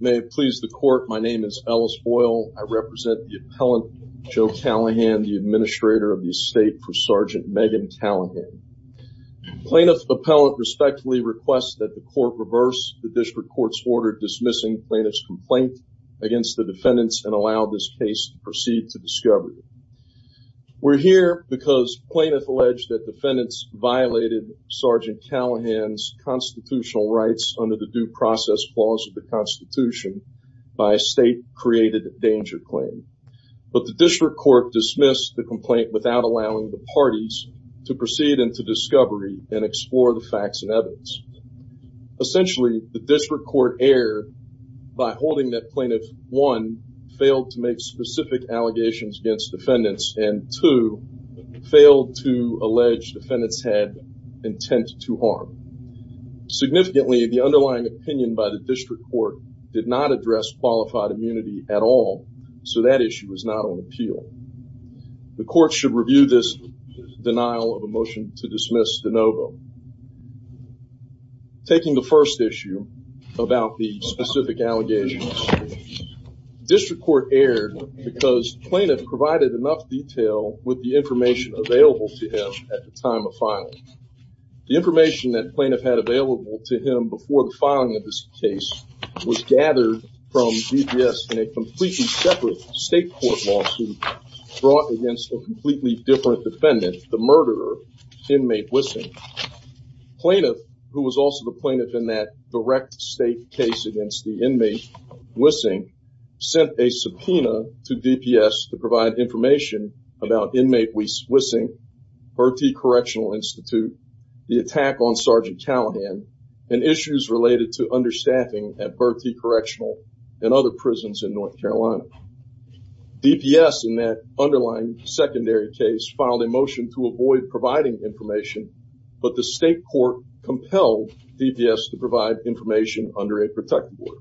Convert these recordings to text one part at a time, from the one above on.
May it please the court, my name is Ellis Boyle. I represent the appellant Joe Callahan, the administrator of the estate for Sergeant Megan Callahan. Plaintiff's appellant respectfully requests that the court reverse the district court's order dismissing plaintiff's complaint against the defendants and allow this case to proceed to discovery. We're here because plaintiff alleged that defendants violated Sergeant Callahan's constitutional rights under the due process clause of the Constitution by a state created danger claim. But the district court dismissed the complaint without allowing the parties to proceed into discovery and explore the facts and evidence. Essentially the district court error by holding that plaintiff one, failed to make specific allegations against defendants and two, failed to allege defendants had intent to harm. Significantly the underlying opinion by the district court did not address qualified immunity at all so that issue was not on appeal. The court should review this denial of a motion to dismiss de novo. Taking the first issue about the specific allegations, district court erred because plaintiff provided enough detail with the information available to time of filing. The information that plaintiff had available to him before the filing of this case was gathered from DPS in a completely separate state court lawsuit brought against a completely different defendant, the murderer, inmate Wissing. Plaintiff, who was also the plaintiff in that direct state case against the inmate Wissing, sent a subpoena to DPS to provide information about inmate Wissing, Bertie Correctional Institute, the attack on Sergeant Callahan, and issues related to understaffing at Bertie Correctional and other prisons in North Carolina. DPS in that underlying secondary case filed a motion to avoid providing information but the state court compelled DPS to provide information under a protective order.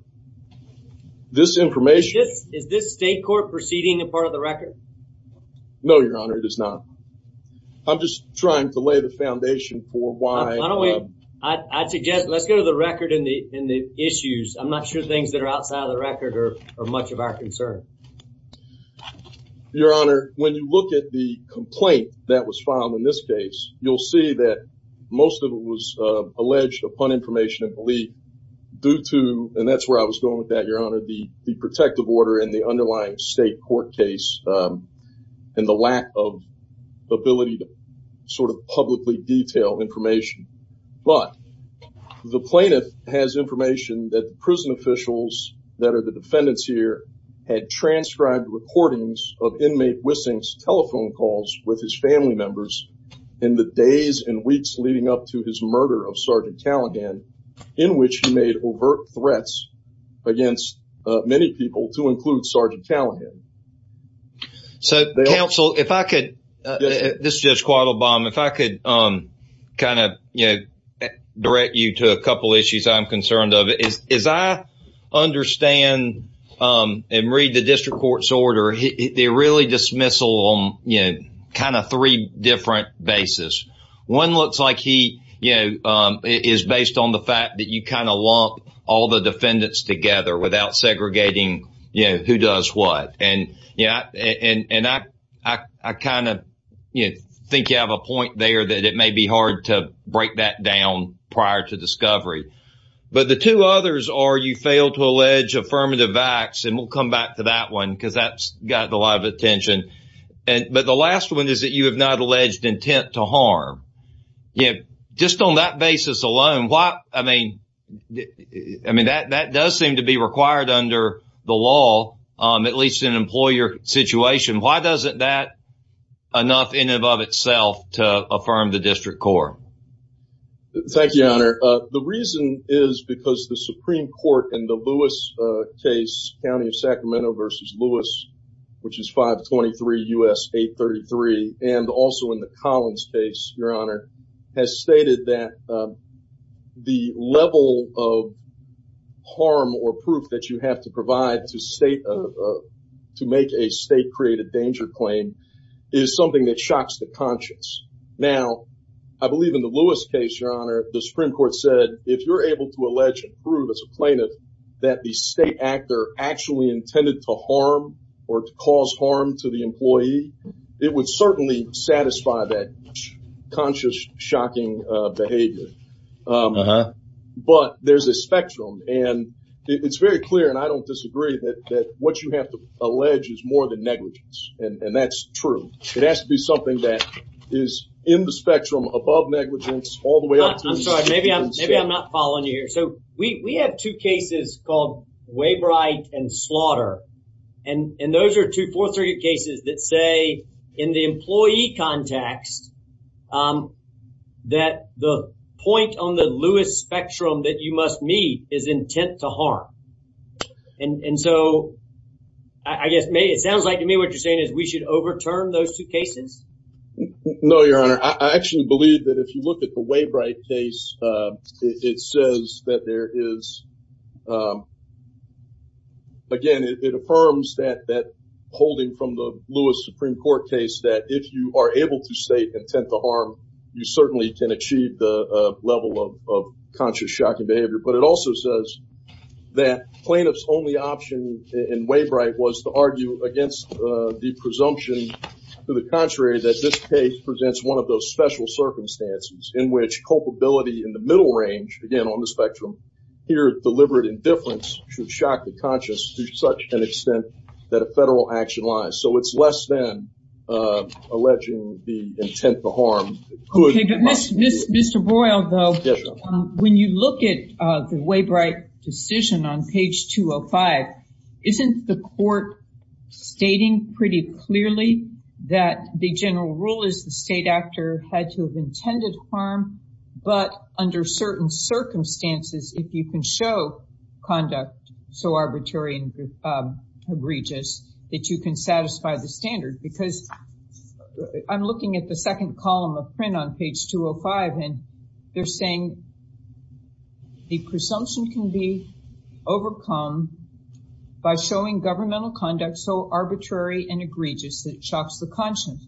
This information... Is this state court proceeding a part of the record? No, your honor, it is not. I'm just trying to lay the foundation for why... I suggest let's go to the record in the in the issues. I'm not sure things that are outside of the record are much of our concern. Your honor, when you look at the complaint that was filed in this case, you'll see that most of it was alleged upon information and belief due to, and that's where I was going with that, your honor, the protective order and the underlying state court case and the lack of ability to sort of publicly detail information. But the plaintiff has information that prison officials that are the defendants here had transcribed recordings of inmate Wissing's in weeks leading up to his murder of Sgt. Callaghan, in which he made overt threats against many people to include Sgt. Callaghan. So, counsel, if I could, this is Judge Quattlebaum, if I could kind of, you know, direct you to a couple issues I'm concerned of. As I understand and read the district court's order, they really dismissal on, you know, kind of three different basis. One looks like he, you know, is based on the fact that you kind of lump all the defendants together without segregating, you know, who does what. And, yeah, and I kind of, you know, think you have a point there that it may be hard to break that down prior to discovery. But the two others are you fail to allege affirmative acts, and we'll come back to that one because that's gotten a lot of attention. But the last one is that you have not alleged intent to harm. You know, just on that basis alone, why, I mean, I mean, that does seem to be required under the law, at least in an employer situation. Why doesn't that enough in and of itself to affirm the district court? Thank you, Your Honor. The reason is because the Supreme Court in the Lewis, which is 523 U.S. 833, and also in the Collins case, Your Honor, has stated that the level of harm or proof that you have to provide to make a state-created danger claim is something that shocks the conscience. Now, I believe in the Lewis case, Your Honor, the Supreme Court said if you're able to allege and prove as a plaintiff that the state actor actually intended to harm or to cause harm to the employee, it would certainly satisfy that conscious shocking behavior. But there's a spectrum, and it's very clear, and I don't disagree, that what you have to allege is more than negligence, and that's true. It has to be something that is in the spectrum above negligence all the way up to... I'm sorry, maybe I'm not following you here. So, we have two cases called Waybright and Slaughter, and those are two, four, three cases that say in the employee context that the point on the Lewis spectrum that you must meet is intent to harm. And so, I guess it sounds like to me what you're saying is we should overturn those two cases. No, Your Honor. I actually believe that if you look at the Waybright case, it says that there is... Again, it affirms that holding from the Lewis Supreme Court case that if you are able to state intent to harm, you certainly can achieve the level of conscious shocking behavior. But it also says that plaintiff's only option in Waybright was to argue against the presumption to the contrary that this case presents one of those special circumstances in which culpability in the middle range, again on the spectrum, here deliberate indifference should shock the conscious to such an extent that a federal action lies. So, it's less than alleging the intent to harm. Okay, but Mr. Boyle, though, when you look at the Waybright decision on page 205, isn't the court stating pretty clearly that the general rule is the state actor had to have intended harm, but under certain circumstances, if you can show conduct so arbitrary and egregious that you can satisfy the standard? Because I'm looking at the second column of print on page 205, and they're saying the presumption can be overcome by showing governmental conduct so arbitrary and egregious that shocks the conscious,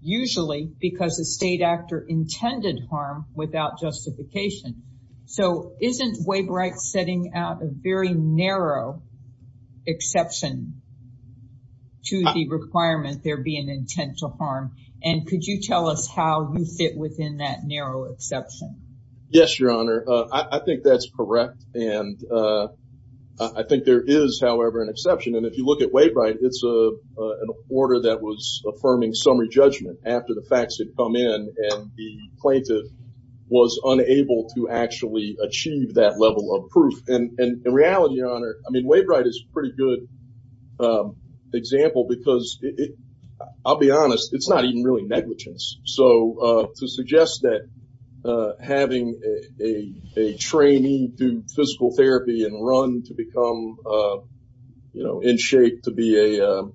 usually because the state actor intended harm without justification. So, isn't Waybright setting out a very narrow exception to the requirement there be an intent to harm? And could you tell us how you fit within that narrow exception? Yes, Your Honor, I think that's correct. And I think there is, however, an exception. And if you look at Waybright, it's an order that was affirming summary judgment after the facts had come in and the plaintiff was unable to actually achieve that level of proof. And in reality, Your Honor, I mean, Waybright is a pretty good example because I'll be honest, it's not even really negligence. So, to suggest that having a trainee do physical therapy and run to become in shape to be a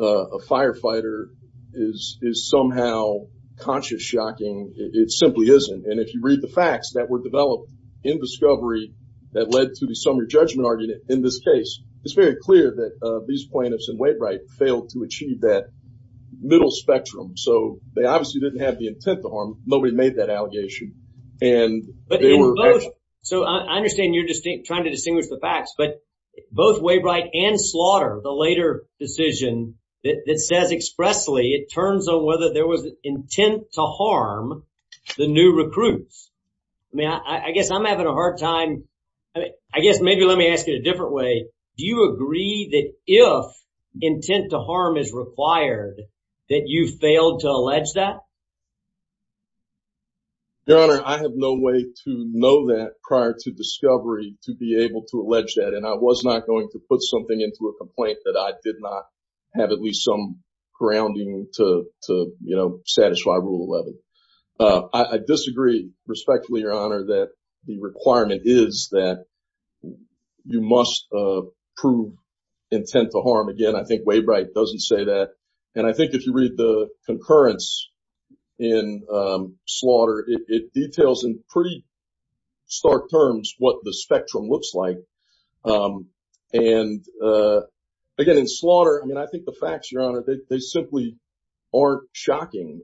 firefighter is somehow conscious shocking, it simply isn't. And if you read the facts that were developed in discovery that led to the summary judgment argument in this case, it's very clear that these plaintiffs and Waybright failed to achieve that middle spectrum. So, they obviously didn't have the intent to harm. Nobody made that allegation. And so, I understand you're trying to distinguish the facts, but both Waybright and Slaughter, the later decision that says expressly it turns on whether there was intent to harm the new recruits. I mean, I guess I'm having a hard time. I guess maybe let me ask it a different way. Do you agree that if intent to harm is required, that you failed to allege that? Your Honor, I have no way to know that prior to discovery to be able to allege that. And I was not going to put something into a complaint that I did not have at least some grounding to, you know, satisfy Rule 11. I disagree respectfully, Your Honor, that the requirement is that you must prove intent to harm. Again, I think Waybright doesn't say that. And I think if you read the in Slaughter, it details in pretty stark terms what the spectrum looks like. And again, in Slaughter, I mean, I think the facts, Your Honor, they simply aren't shocking.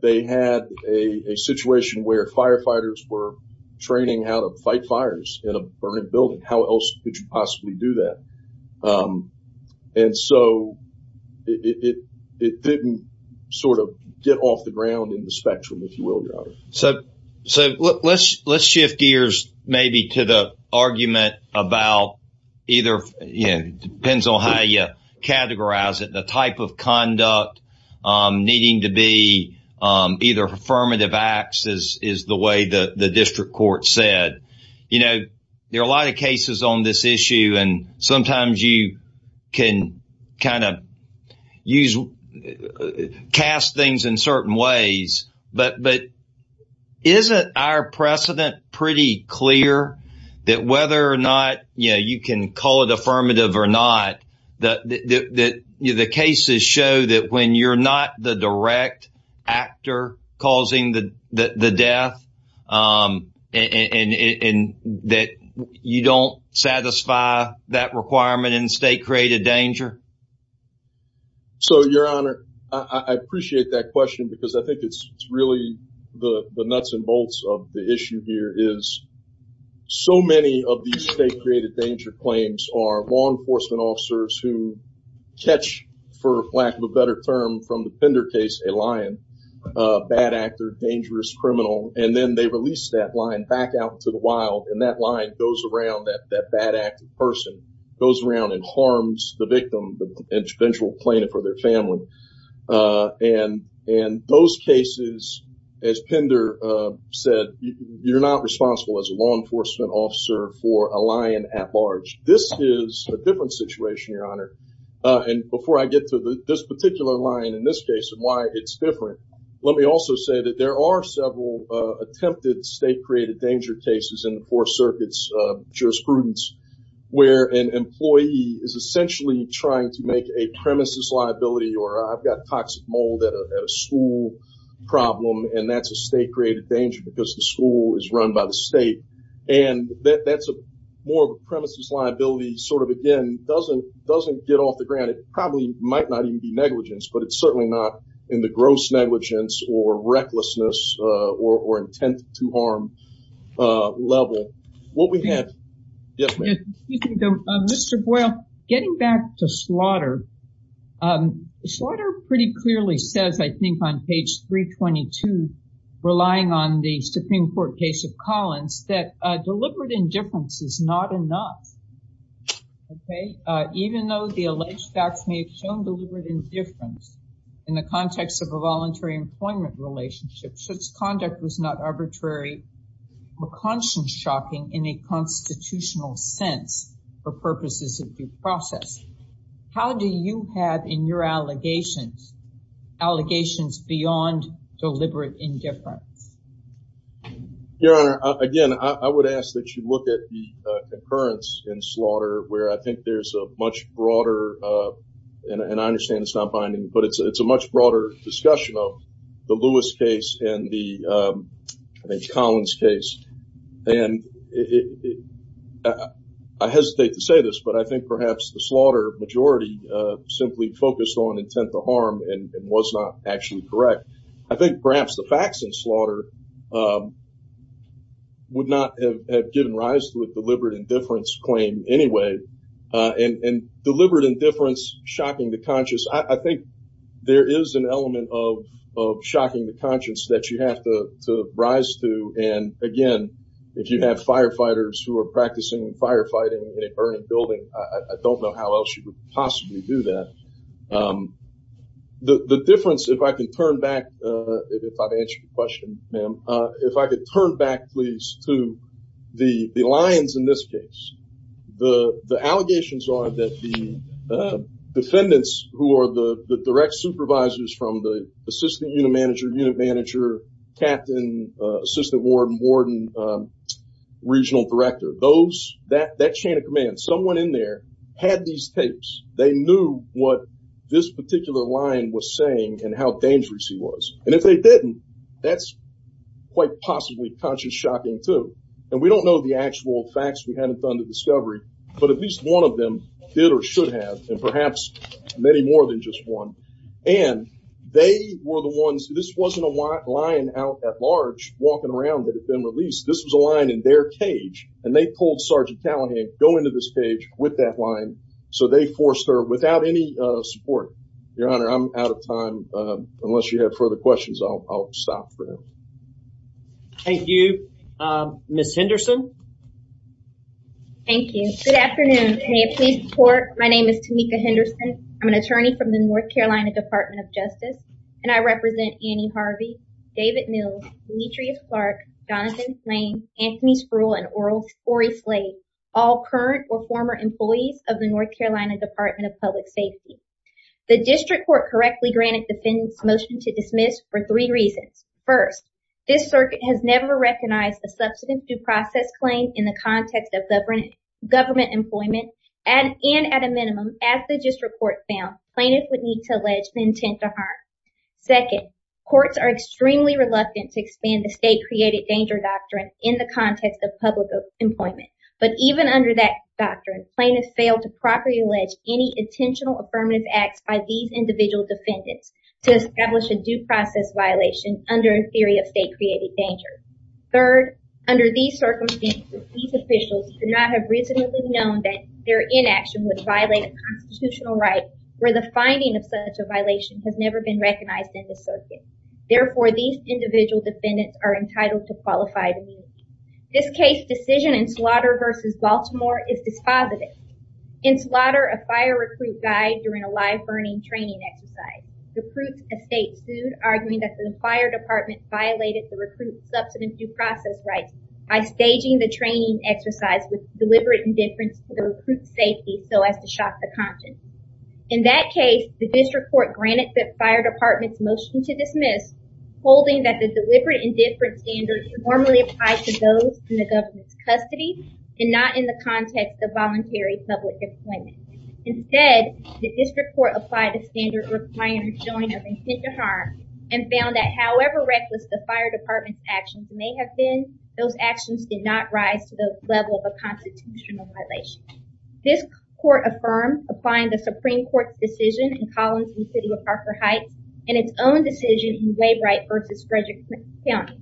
They had a situation where firefighters were training how to fight fires in a burning building. How else could you possibly do that? And so it didn't sort of get off the ground in the spectrum, if you will, Your Honor. So let's shift gears maybe to the argument about either, you know, depends on how you categorize it, the type of conduct needing to be either affirmative acts is the way the district court said. You know, there are a lot of cases on this issue. And sometimes you can kind of use cast things in certain ways. But isn't our precedent pretty clear that whether or not, you know, you can call it affirmative or not, that the cases show that when you're not the direct actor causing the death and that you don't satisfy that requirement in state created danger? So, Your Honor, I appreciate that question because I think it's really the nuts and bolts of the issue here is so many of these state created danger claims are officers who catch, for lack of a better term, from the Pender case, a lion, a bad actor, dangerous criminal, and then they release that lion back out to the wild. And that line goes around that that bad acting person goes around and harms the victim, the eventual plaintiff or their family. And in those cases, as Pender said, you're not responsible as a law enforcement officer for a lion at large. This is a different situation, Your Honor. And before I get to this particular line in this case and why it's different, let me also say that there are several attempted state created danger cases in the Fourth Circuit's jurisprudence where an employee is essentially trying to make a premises liability or I've got toxic mold at a school problem, and that's a state created danger because the school is run by the state. And that's more of a premises liability, sort of, again, doesn't get off the ground. It probably might not even be negligence, but it's certainly not in the gross negligence or recklessness or intent to harm level. What we have... Yes, ma'am. Mr. Boyle, getting back to slaughter. Slaughter pretty clearly says, I think, on page 322, relying on the Supreme Court case of Collins, that deliberate indifference is not enough. Okay. Even though the alleged facts may have shown deliberate indifference in the context of a voluntary employment relationship, such conduct was not arbitrary or conscience-shocking in a constitutional sense for purposes of due process. How do you have in your allegations, allegations beyond deliberate indifference? Your Honor, again, I would ask that you look at the occurrence in slaughter where I think there's a much broader, and I understand it's not binding, but it's a much broader discussion of the Lewis case and the Collins case. And I hesitate to say this, but I think perhaps the slaughter majority simply focused on intent to harm and was not actually correct. I think perhaps the facts in slaughter would not have given rise to a deliberate indifference claim anyway. And deliberate indifference, shocking the conscience, I think there is an element of shocking the conscience that you have to rise to. And again, if you have firefighters who are practicing firefighting in a burning building, I don't know how else you would possibly do that. The difference, if I can turn back, if I can answer your question, ma'am, if I could turn back please to the lines in this case. The allegations are that the defendants who are the direct supervisors from the assistant unit manager, unit manager, captain, assistant warden, warden, regional director, that chain of command, someone in there had these tapes. They knew what this particular line was saying and how dangerous he was. And if they didn't, that's quite possibly conscious shocking too. And we don't know the actual facts. We haven't done the discovery, but at least one of them did or should have, and perhaps many more than just one. And they were the ones, this wasn't a line out at large walking around that had been released. This was a line in their cage and they told Sergeant Callahan, go into this cage with that line. So they forced her without any support. Your honor, I'm out of time. Unless you have further questions, I'll stop for now. Thank you. Ms. Henderson. Thank you. Good afternoon. May I please report, my name is Tameka Henderson. I'm an attorney from the North Carolina Department of Justice and I represent Annie Harvey, David Mills, Demetrius Clark, Jonathan Slane, Anthony Spruill, and Ory Slade, all current or former employees of the North Carolina Department of Public Safety. The district court correctly granted defendants motion to dismiss for three reasons. First, this circuit has never recognized a substantive due process claim in the context of government employment and at a minimum, as the district court found, plaintiffs would need to allege the intent to harm. Second, courts are extremely reluctant to expand the state created danger doctrine in the context of public employment. But even under that doctrine, plaintiffs failed to properly allege any intentional affirmative acts by these individual defendants to establish a due process violation under a theory of state created danger. Third, under these circumstances, these officials do not have reasonably known that their inaction would violate a constitutional right where the finding of such a violation has never been recognized in the circuit. Therefore, these individual defendants are entitled to qualified immunity. This case decision in slaughter versus Baltimore is dispositive. In slaughter, a fire recruit died during a live burning training exercise. The recruits estate sued, arguing that the fire department violated the recruit's substantive due process rights by staging the training exercise with deliberate indifference to the recruit's safety so as to shock the conscience. In that case, the district court granted the fire department's motion to dismiss, holding that the deliberate indifference standard normally applies to those in the government's custody and not in the context of voluntary public employment. Instead, the district court applied a standard requiring a joint of intent to harm and found that however reckless the fire department's actions may have been, those actions did not rise to the level of a constitutional violation. This court affirmed applying the Supreme Court's decision in Collins v. City of Parker Heights and its own decision in Waybright versus Frederick County.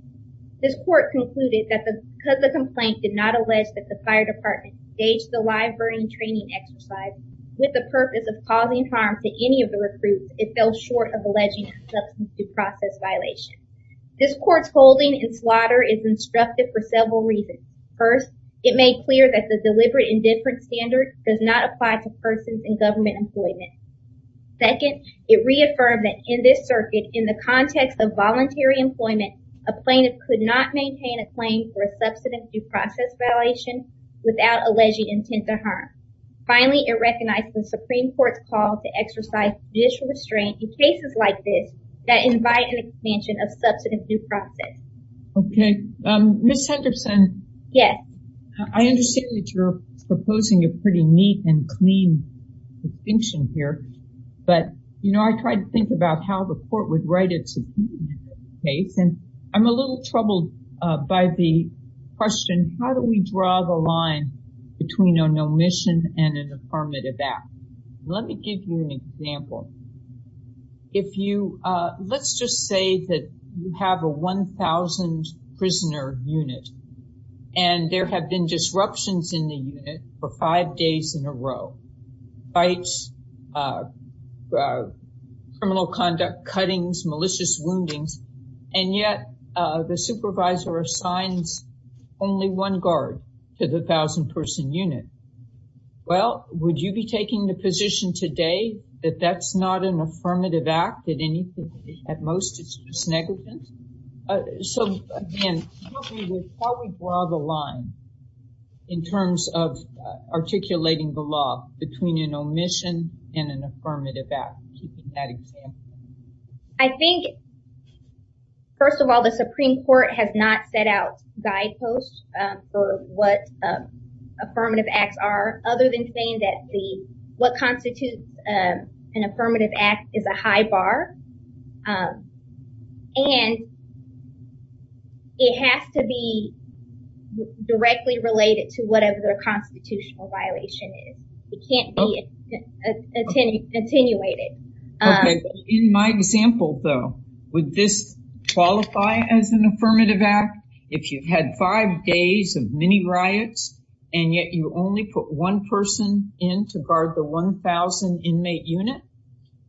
This court concluded that because the complaint did not allege that the fire department staged the live burning training exercise with the purpose of causing harm to any of the recruits, it fell short of alleging a substantive due process violation. This court's holding in slaughter is instructive for several reasons. First, it made clear that the deliberate indifference standard does not apply to persons in government employment. Second, it reaffirmed that in this circuit, in the context of voluntary employment, a plaintiff could not maintain a claim for a without alleging intent to harm. Finally, it recognized the Supreme Court's call to exercise judicial restraint in cases like this that invite an expansion of substantive due process. Okay, Ms. Henderson. Yes. I understand that you're proposing a pretty neat and clean distinction here, but you know I tried to think about how the court would write it to case and I'm a little troubled by the question how do we draw the line between an omission and an affirmative act. Let me give you an example. If you, let's just say that you have a 1,000 prisoner unit and there have been disruptions in the unit for five days in a row. Fights, criminal conduct, cuttings, malicious woundings, and yet the supervisor assigns only one guard to the 1,000 person unit. Well, would you be taking the position today that that's not an affirmative act at any, at most it's just negligence? So again, how do we draw the line in terms of articulating the law between an omission and an affirmative act? Keeping that example. I think, first of all, the Supreme Court has not set out guideposts for what affirmative acts are other than saying that the what constitutes an affirmative act is a high bar and it has to be directly related to whatever the constitutional violation is. It can't be attenuated. In my example though, would this qualify as an affirmative act? If you've had five days of mini riots and yet you only put one person in to guard the 1,000 inmate unit,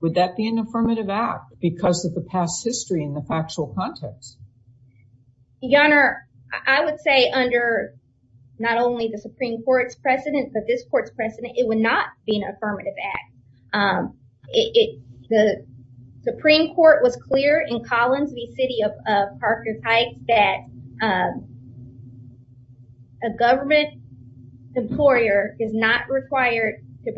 would that be an affirmative act because of the past history in the factual context? Your Honor, I would say under not only the Supreme Court's precedent, but this court's precedent, it would not be an affirmative act. The Supreme Court was clear in Collins v. City of Parker Pike that a government employer is not required to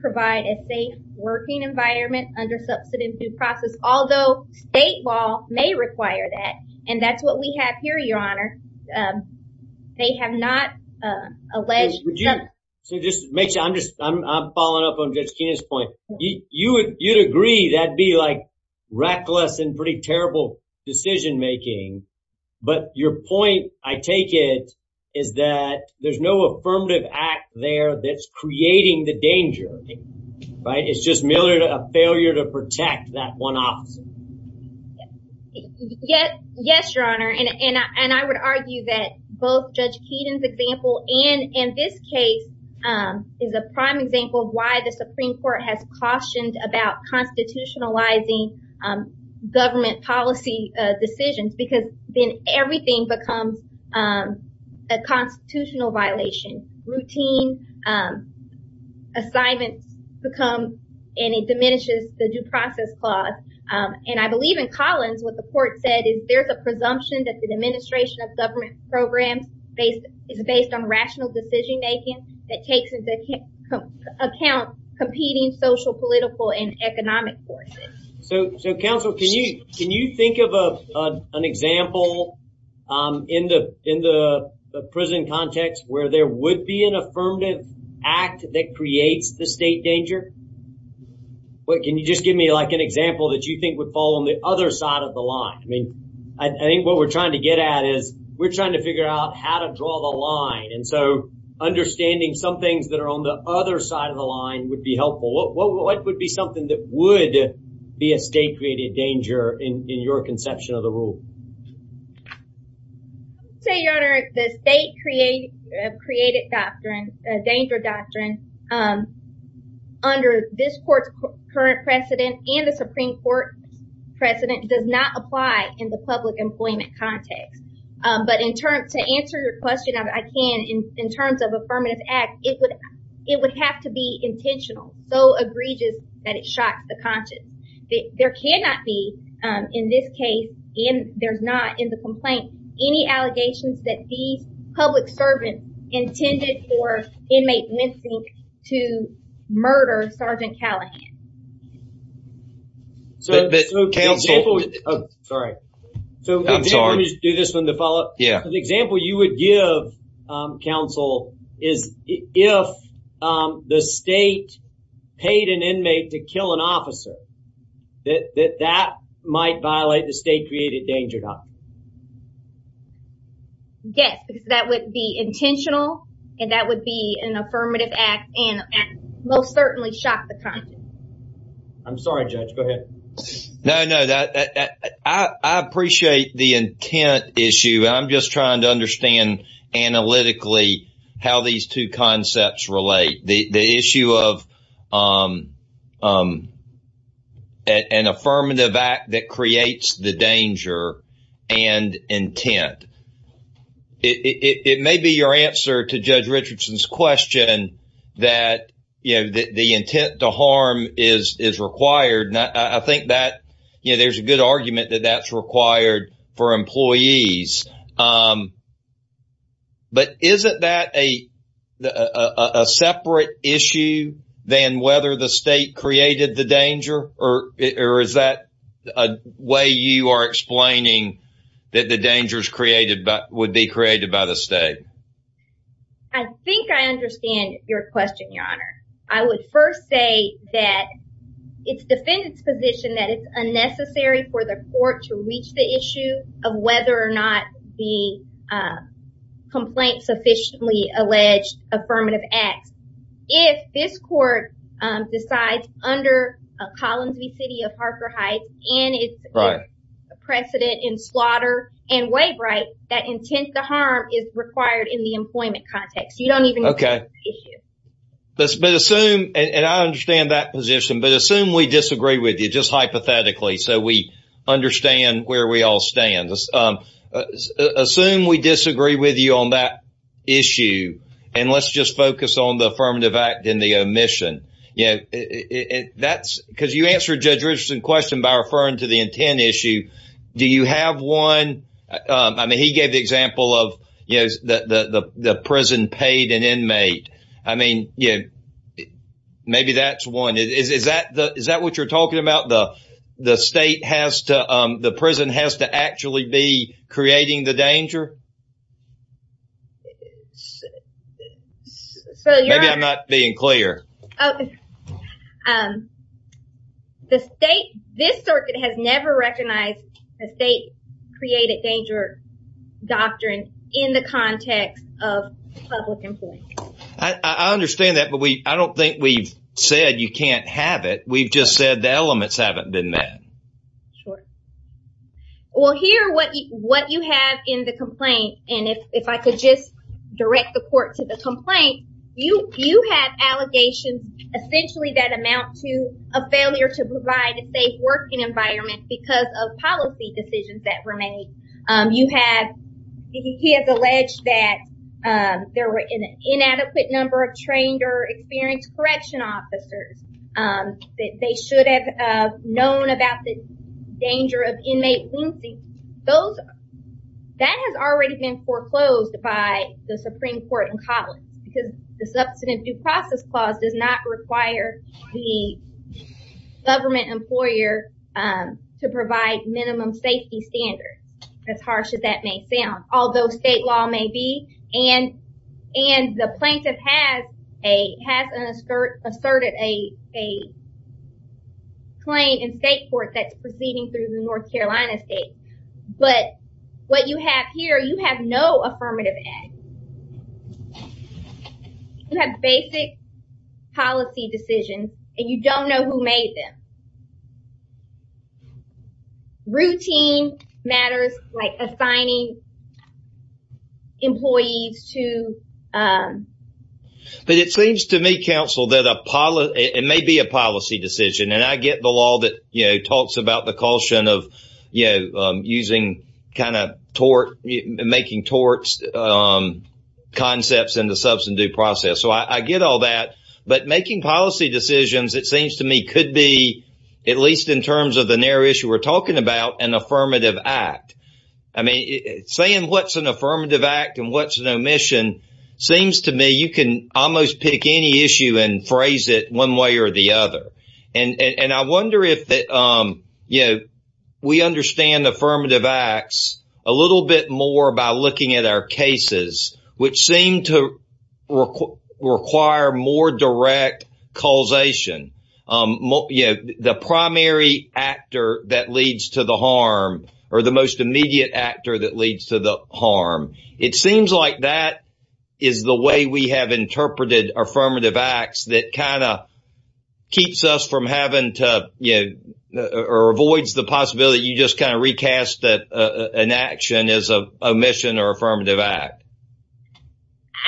provide a safe working environment under subsidized food process, although state law may require that. And that's what we have here, Your Honor. They have not alleged. So just to make sure, I'm just, I'm following up on Judge Keenan's point. You'd agree that'd be like reckless and pretty terrible decision making, but your point, I take it, is that there's no affirmative act there that's creating the danger, right? It's just merely a failure to protect that one officer. Yes, Your Honor. And I would argue that both Judge Keenan's example and in this case is a Supreme Court has cautioned about constitutionalizing government policy decisions because then everything becomes a constitutional violation. Routine assignments become and it diminishes the due process clause. And I believe in Collins, what the court said is there's a presumption that the administration of government programs is based on rational decision making that takes into account competing social, political, and economic forces. So counsel, can you think of an example in the prison context where there would be an affirmative act that creates the state danger? Can you just give me like an example that you think would fall on the other side of the line? I mean, I think what we're trying to get at is we're trying to some things that are on the other side of the line would be helpful. What would be something that would be a state-created danger in your conception of the rule? So, Your Honor, the state-created doctrine, the danger doctrine under this court's current precedent and the Supreme Court precedent does not apply in the public employment context. But to answer your question, I can. In terms of affirmative act, it would have to be intentional, so egregious that it shocked the conscience. There cannot be, in this case, and there's not in the complaint, any allegations that these public servants intended for inmate missing to murder Sergeant Callahan. So the example you would give, counsel, is if the state paid an inmate to kill an officer, that that might violate the state-created danger doctrine. Yes, because that would be intentional and that would be an affirmative act and most certainly shock the conscience. I'm sorry, Judge. Go ahead. No, no. I appreciate the intent issue. I'm just trying to understand analytically how these two concepts relate. The issue of an affirmative act that creates the danger and intent. It may be your answer to Judge Richardson's question that, you know, the intent to harm is required. I think that, you know, there's a good argument that that's required for employees. But isn't that a separate issue than whether the state created the danger or is that a way you are explaining that the dangers would be created by the state? I think I understand your question, Your Honor. I would first say that it's defendant's position that it's unnecessary for the court to reach the issue of whether or not the complaint sufficiently alleged affirmative acts. If this court decides under Collins v. City of Parker Heights and it's precedent in slaughter and waive rights, that intent to harm is required in the employment context. You don't even know the issue. Okay. But assume, and I understand that position, but assume we disagree with you, just hypothetically, so we understand where we all stand. Assume we disagree with you on that issue and let's just focus on the affirmative act and the omission. You know, that's because you answered Judge Richardson's question by referring to the intent issue. Do you have one? I mean, he gave the example of, you know, the prison paid an inmate. I mean, you know, maybe that's one. Is that what you're talking about? The state has to, the prison has to actually be creating the danger? Maybe I'm not being clear. This circuit has never recognized a state-created danger doctrine in the context of public employment. I understand that, but I don't think we've said you can't have it. We've just said the Well, here, what you have in the complaint, and if I could just direct the court to the complaint, you have allegations essentially that amount to a failure to provide a safe working environment because of policy decisions that were made. You have, he has alleged that there were an inadequate number of trained or experienced correction officers, that they should have known about the inmate. Those, that has already been foreclosed by the Supreme Court in college because the Substantive Due Process Clause does not require the government employer to provide minimum safety standards, as harsh as that may sound. Although state law may be, and the plaintiff has asserted a claim in state court that's proceeding through the North Carolina state, but what you have here, you have no affirmative edge. You have basic policy decisions, and you don't know who made them. Routine matters, like assigning employees to But it seems to me, counsel, that a policy, it may be a policy decision, and I get the law that, you know, talks about the caution of, you know, using kind of tort, making torts concepts in the substantive due process. So I get all that, but making policy decisions, it seems to me, could be, at least in terms of the narrow issue we're talking about, an affirmative act. I mean, saying what's an affirmative act and what's an omission seems to me, you can almost pick any issue and phrase it one way or the other. And I wonder if, you know, we understand affirmative acts a little bit more by looking at our cases, which seem to require more direct causation. You know, the primary actor that leads to the harm, or the most immediate actor that leads to the harm, it seems like that is the way we have interpreted affirmative acts that kind of keeps us from having to, you know, or avoids the possibility you just kind of recast that an action is an omission or affirmative act.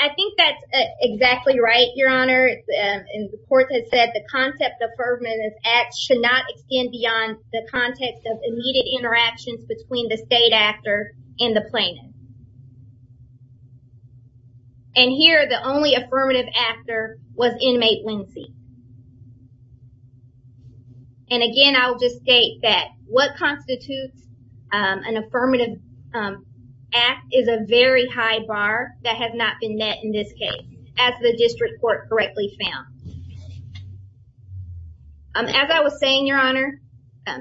I think that's exactly right, Your Honor. The court has said the concept of affirmative acts should not extend beyond the context of immediate interactions between the state actor and the plaintiff. And here, the only affirmative actor was inmate Lindsey. And again, I'll just state that what constitutes an affirmative act is a very high bar that has not been met in this case, as the district court correctly found. As I was saying, Your Honor,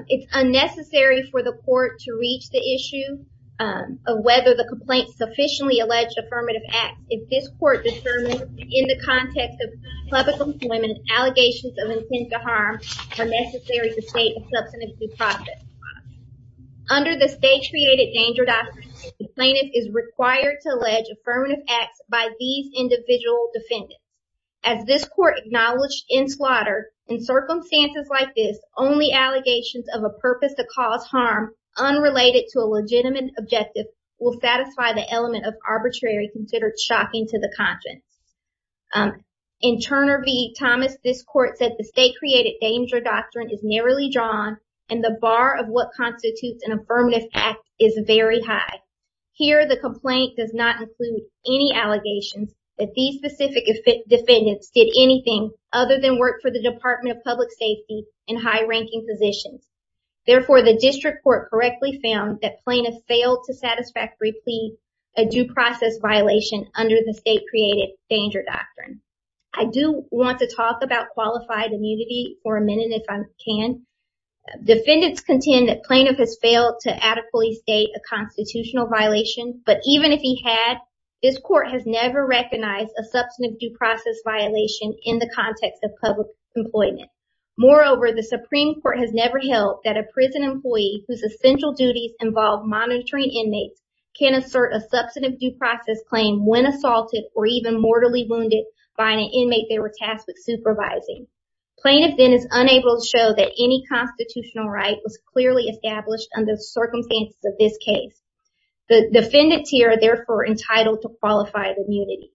it's unnecessary for the court to reach the issue of whether the complaint sufficiently alleged affirmative act if this court determined in the context of public employment allegations of intent to harm are necessary to state a substantive due process. Under the State Created Danger Doctrine, the plaintiff is required to allege affirmative acts by these individual defendants. As this court acknowledged in slaughter, in circumstances like this, only allegations of a purpose to cause harm unrelated to a legitimate objective will satisfy the element of arbitrary considered shocking to the conscience. In Turner v. Thomas, this court said the State Created Danger Doctrine is narrowly drawn and the bar of what constitutes an affirmative act is very high. Here, the complaint does not include any allegations that these specific defendants did anything other than work for the Department of Public Safety in high-ranking positions. Therefore, the district court correctly found that plaintiff failed to satisfactorily plead a due process violation under the State Created Danger Doctrine. I do want to talk about qualified immunity for a minute if I can. Defendants contend that plaintiff has failed to adequately state a constitutional violation, but even if he had, this court has never recognized a substantive due process violation in the context of public employment. Moreover, the Supreme Court has never held that a prison employee whose essential duties involve monitoring inmates can assert a substantive due process claim when assaulted or even mortally wounded by an inmate they were tasked with supervising. Plaintiff then is unable to show that any constitutional right was clearly established under the circumstances of this case. The defendants here are therefore entitled to qualified immunity.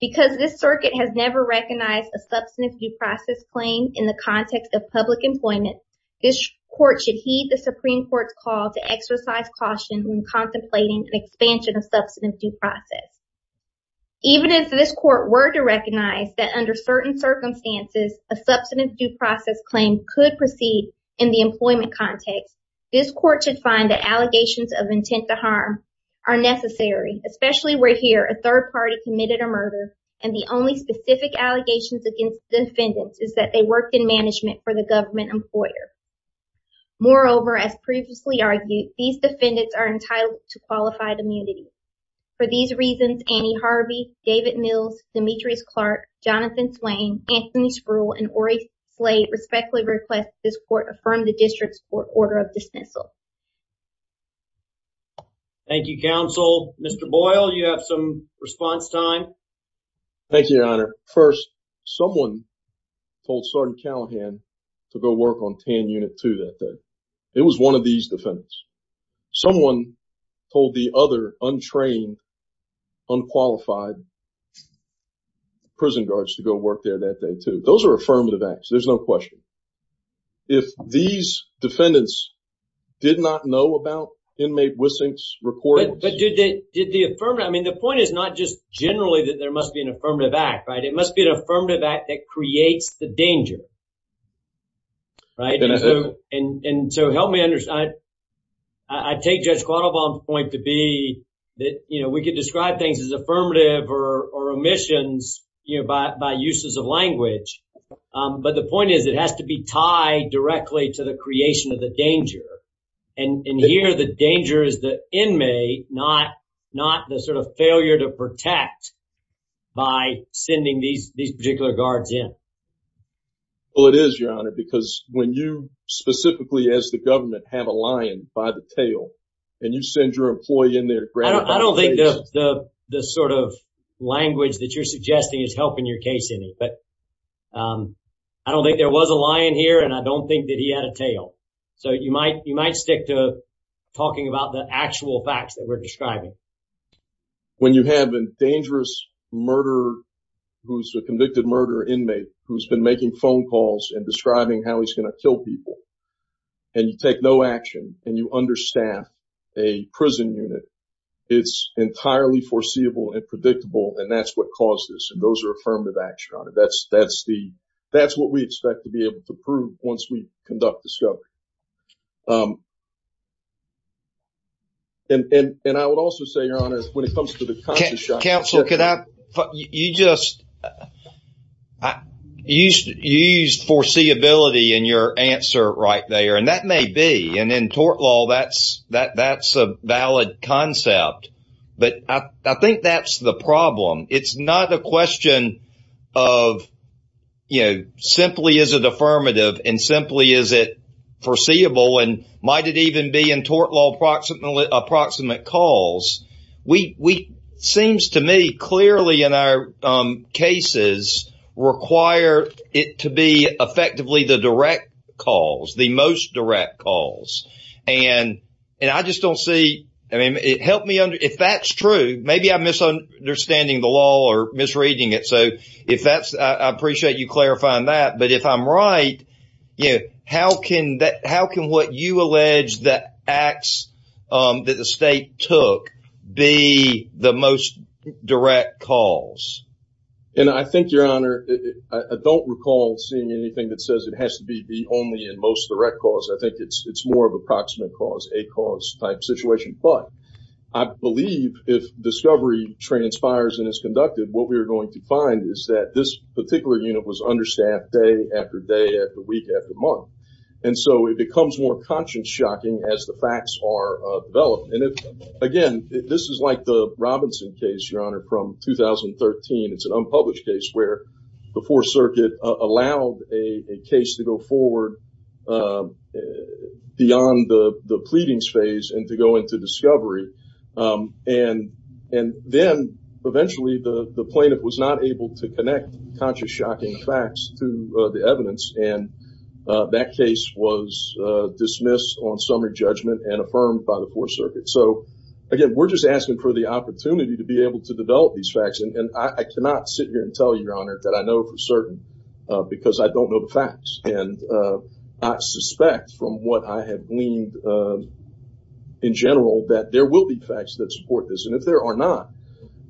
Because this circuit has never recognized a substantive due process claim in the context of public employment, this court should heed the Supreme Court's call to exercise caution when contemplating an expansion of substantive due process. Even if this court were to recognize that under certain circumstances a substantive due process claim could proceed in the employment context, this court should find that allegations of intent to harm are necessary, especially where here a third party committed a murder and the only specific allegations against defendants is that they worked in management for the government employer. Moreover, as previously argued, these defendants are entitled to qualified immunity. For these reasons, Annie Harvey, David Mills, Demetrius Clark, Jonathan Swain, Anthony Spruill, and Ori Slate respectfully request this court affirm the district's court order of dismissal. Thank you, counsel. Mr. Boyle, you have some response time. Thank you, your honor. First, someone told Sergeant Callahan to go work on TAN Unit 2 that day. It was one of these defendants. Someone told the other untrained, unqualified prison guards to go work there that day, too. Those are affirmative acts. There's no question. If these defendants did not know about inmate Wissink's recordings... But did they did the affirmative... I mean, the point is not just generally that there must be an affirmative act, right? It must be an affirmative act that creates the danger, right? And so help me understand. I take Judge Quattlebaum's point to be that we could describe things as affirmative or omissions by uses of language. But the point is it has to be tied directly to the creation of the danger. And here the danger is the inmate, not the sort of failure to protect by sending these particular guards in. Well, it is, your honor, because when you specifically, as the government, have a lion by the tail and you send your employee in there... I don't think the sort of language that you're suggesting is helping your case in it. But I don't think there was a lion here and I don't think that he had a tail. So you might stick to talking about the actual facts that we're describing. When you have a dangerous murder, who's a convicted murder inmate, who's been making phone calls and describing how he's going to kill people, and you take no action and you understaff a prison unit, it's entirely foreseeable and predictable. And that's what caused this. And those are affirmative action. That's what we expect to be able to prove once we conduct discovery. And I would also say, your honor, when it comes to the conscious shot... Counsel, you just used foreseeability in your answer right there. And that may be, and in tort law, that's a valid concept. But I think that's the problem. It's not a question of simply is it affirmative and simply is it foreseeable and might it even be in tort law approximate calls. It seems to me clearly in our cases require it to be effectively the direct calls, the most direct calls. And I just don't see... I mean, it helped me under... If that's maybe I'm misunderstanding the law or misreading it. So if that's... I appreciate you clarifying that. But if I'm right, how can what you allege that acts that the state took be the most direct calls? And I think, your honor, I don't recall seeing anything that says it has to be only in most direct calls. I think it's more of approximate calls, a cause type situation. But I believe if discovery transpires and is conducted, what we are going to find is that this particular unit was understaffed day after day after week after month. And so it becomes more conscious shocking as the facts are developed. And again, this is like the Robinson case, your honor, from 2013. It's an unpublished case where the fourth circuit allowed a case to go forward beyond the pleadings phase and to go into discovery. And then eventually the plaintiff was not able to connect conscious shocking facts to the evidence. And that case was dismissed on summary judgment and affirmed by the fourth circuit. So again, we're just asking for the opportunity to be able to develop these facts. And I cannot sit here and tell you, your honor, that I know for certain because I don't know the facts. And I suspect from what I have gleaned in general that there will be facts that support this. And if there are not,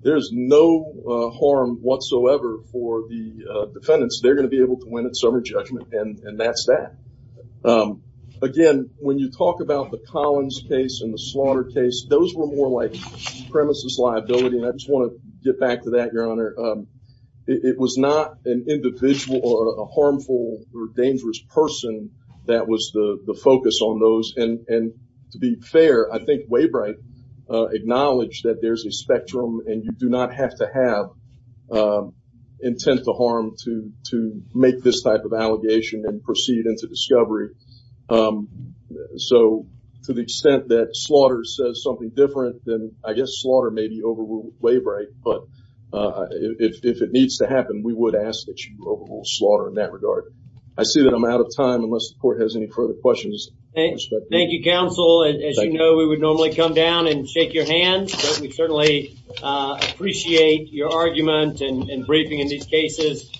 there's no harm whatsoever for the defendants. They're going to be able to win at summary judgment. And that's that. Again, when you talk about the Collins case and the slaughter case, those were more like premises liability. And I just want to get back to that, your honor. It was not an individual or a harmful or dangerous person that was the focus on those. And to be fair, I think Waybright acknowledged that there's a spectrum and you do not have to have intent to harm to make this type of allegation and proceed into discovery. So to the extent that slaughter says something different than I guess slaughter may be overruled Waybright. But if it needs to happen, we would ask that you overrule slaughter in that regard. I see that I'm out of time unless the court has any further questions. Thank you, counsel. As you know, we would normally come down and shake your hand. We certainly appreciate your argument and briefing in these cases.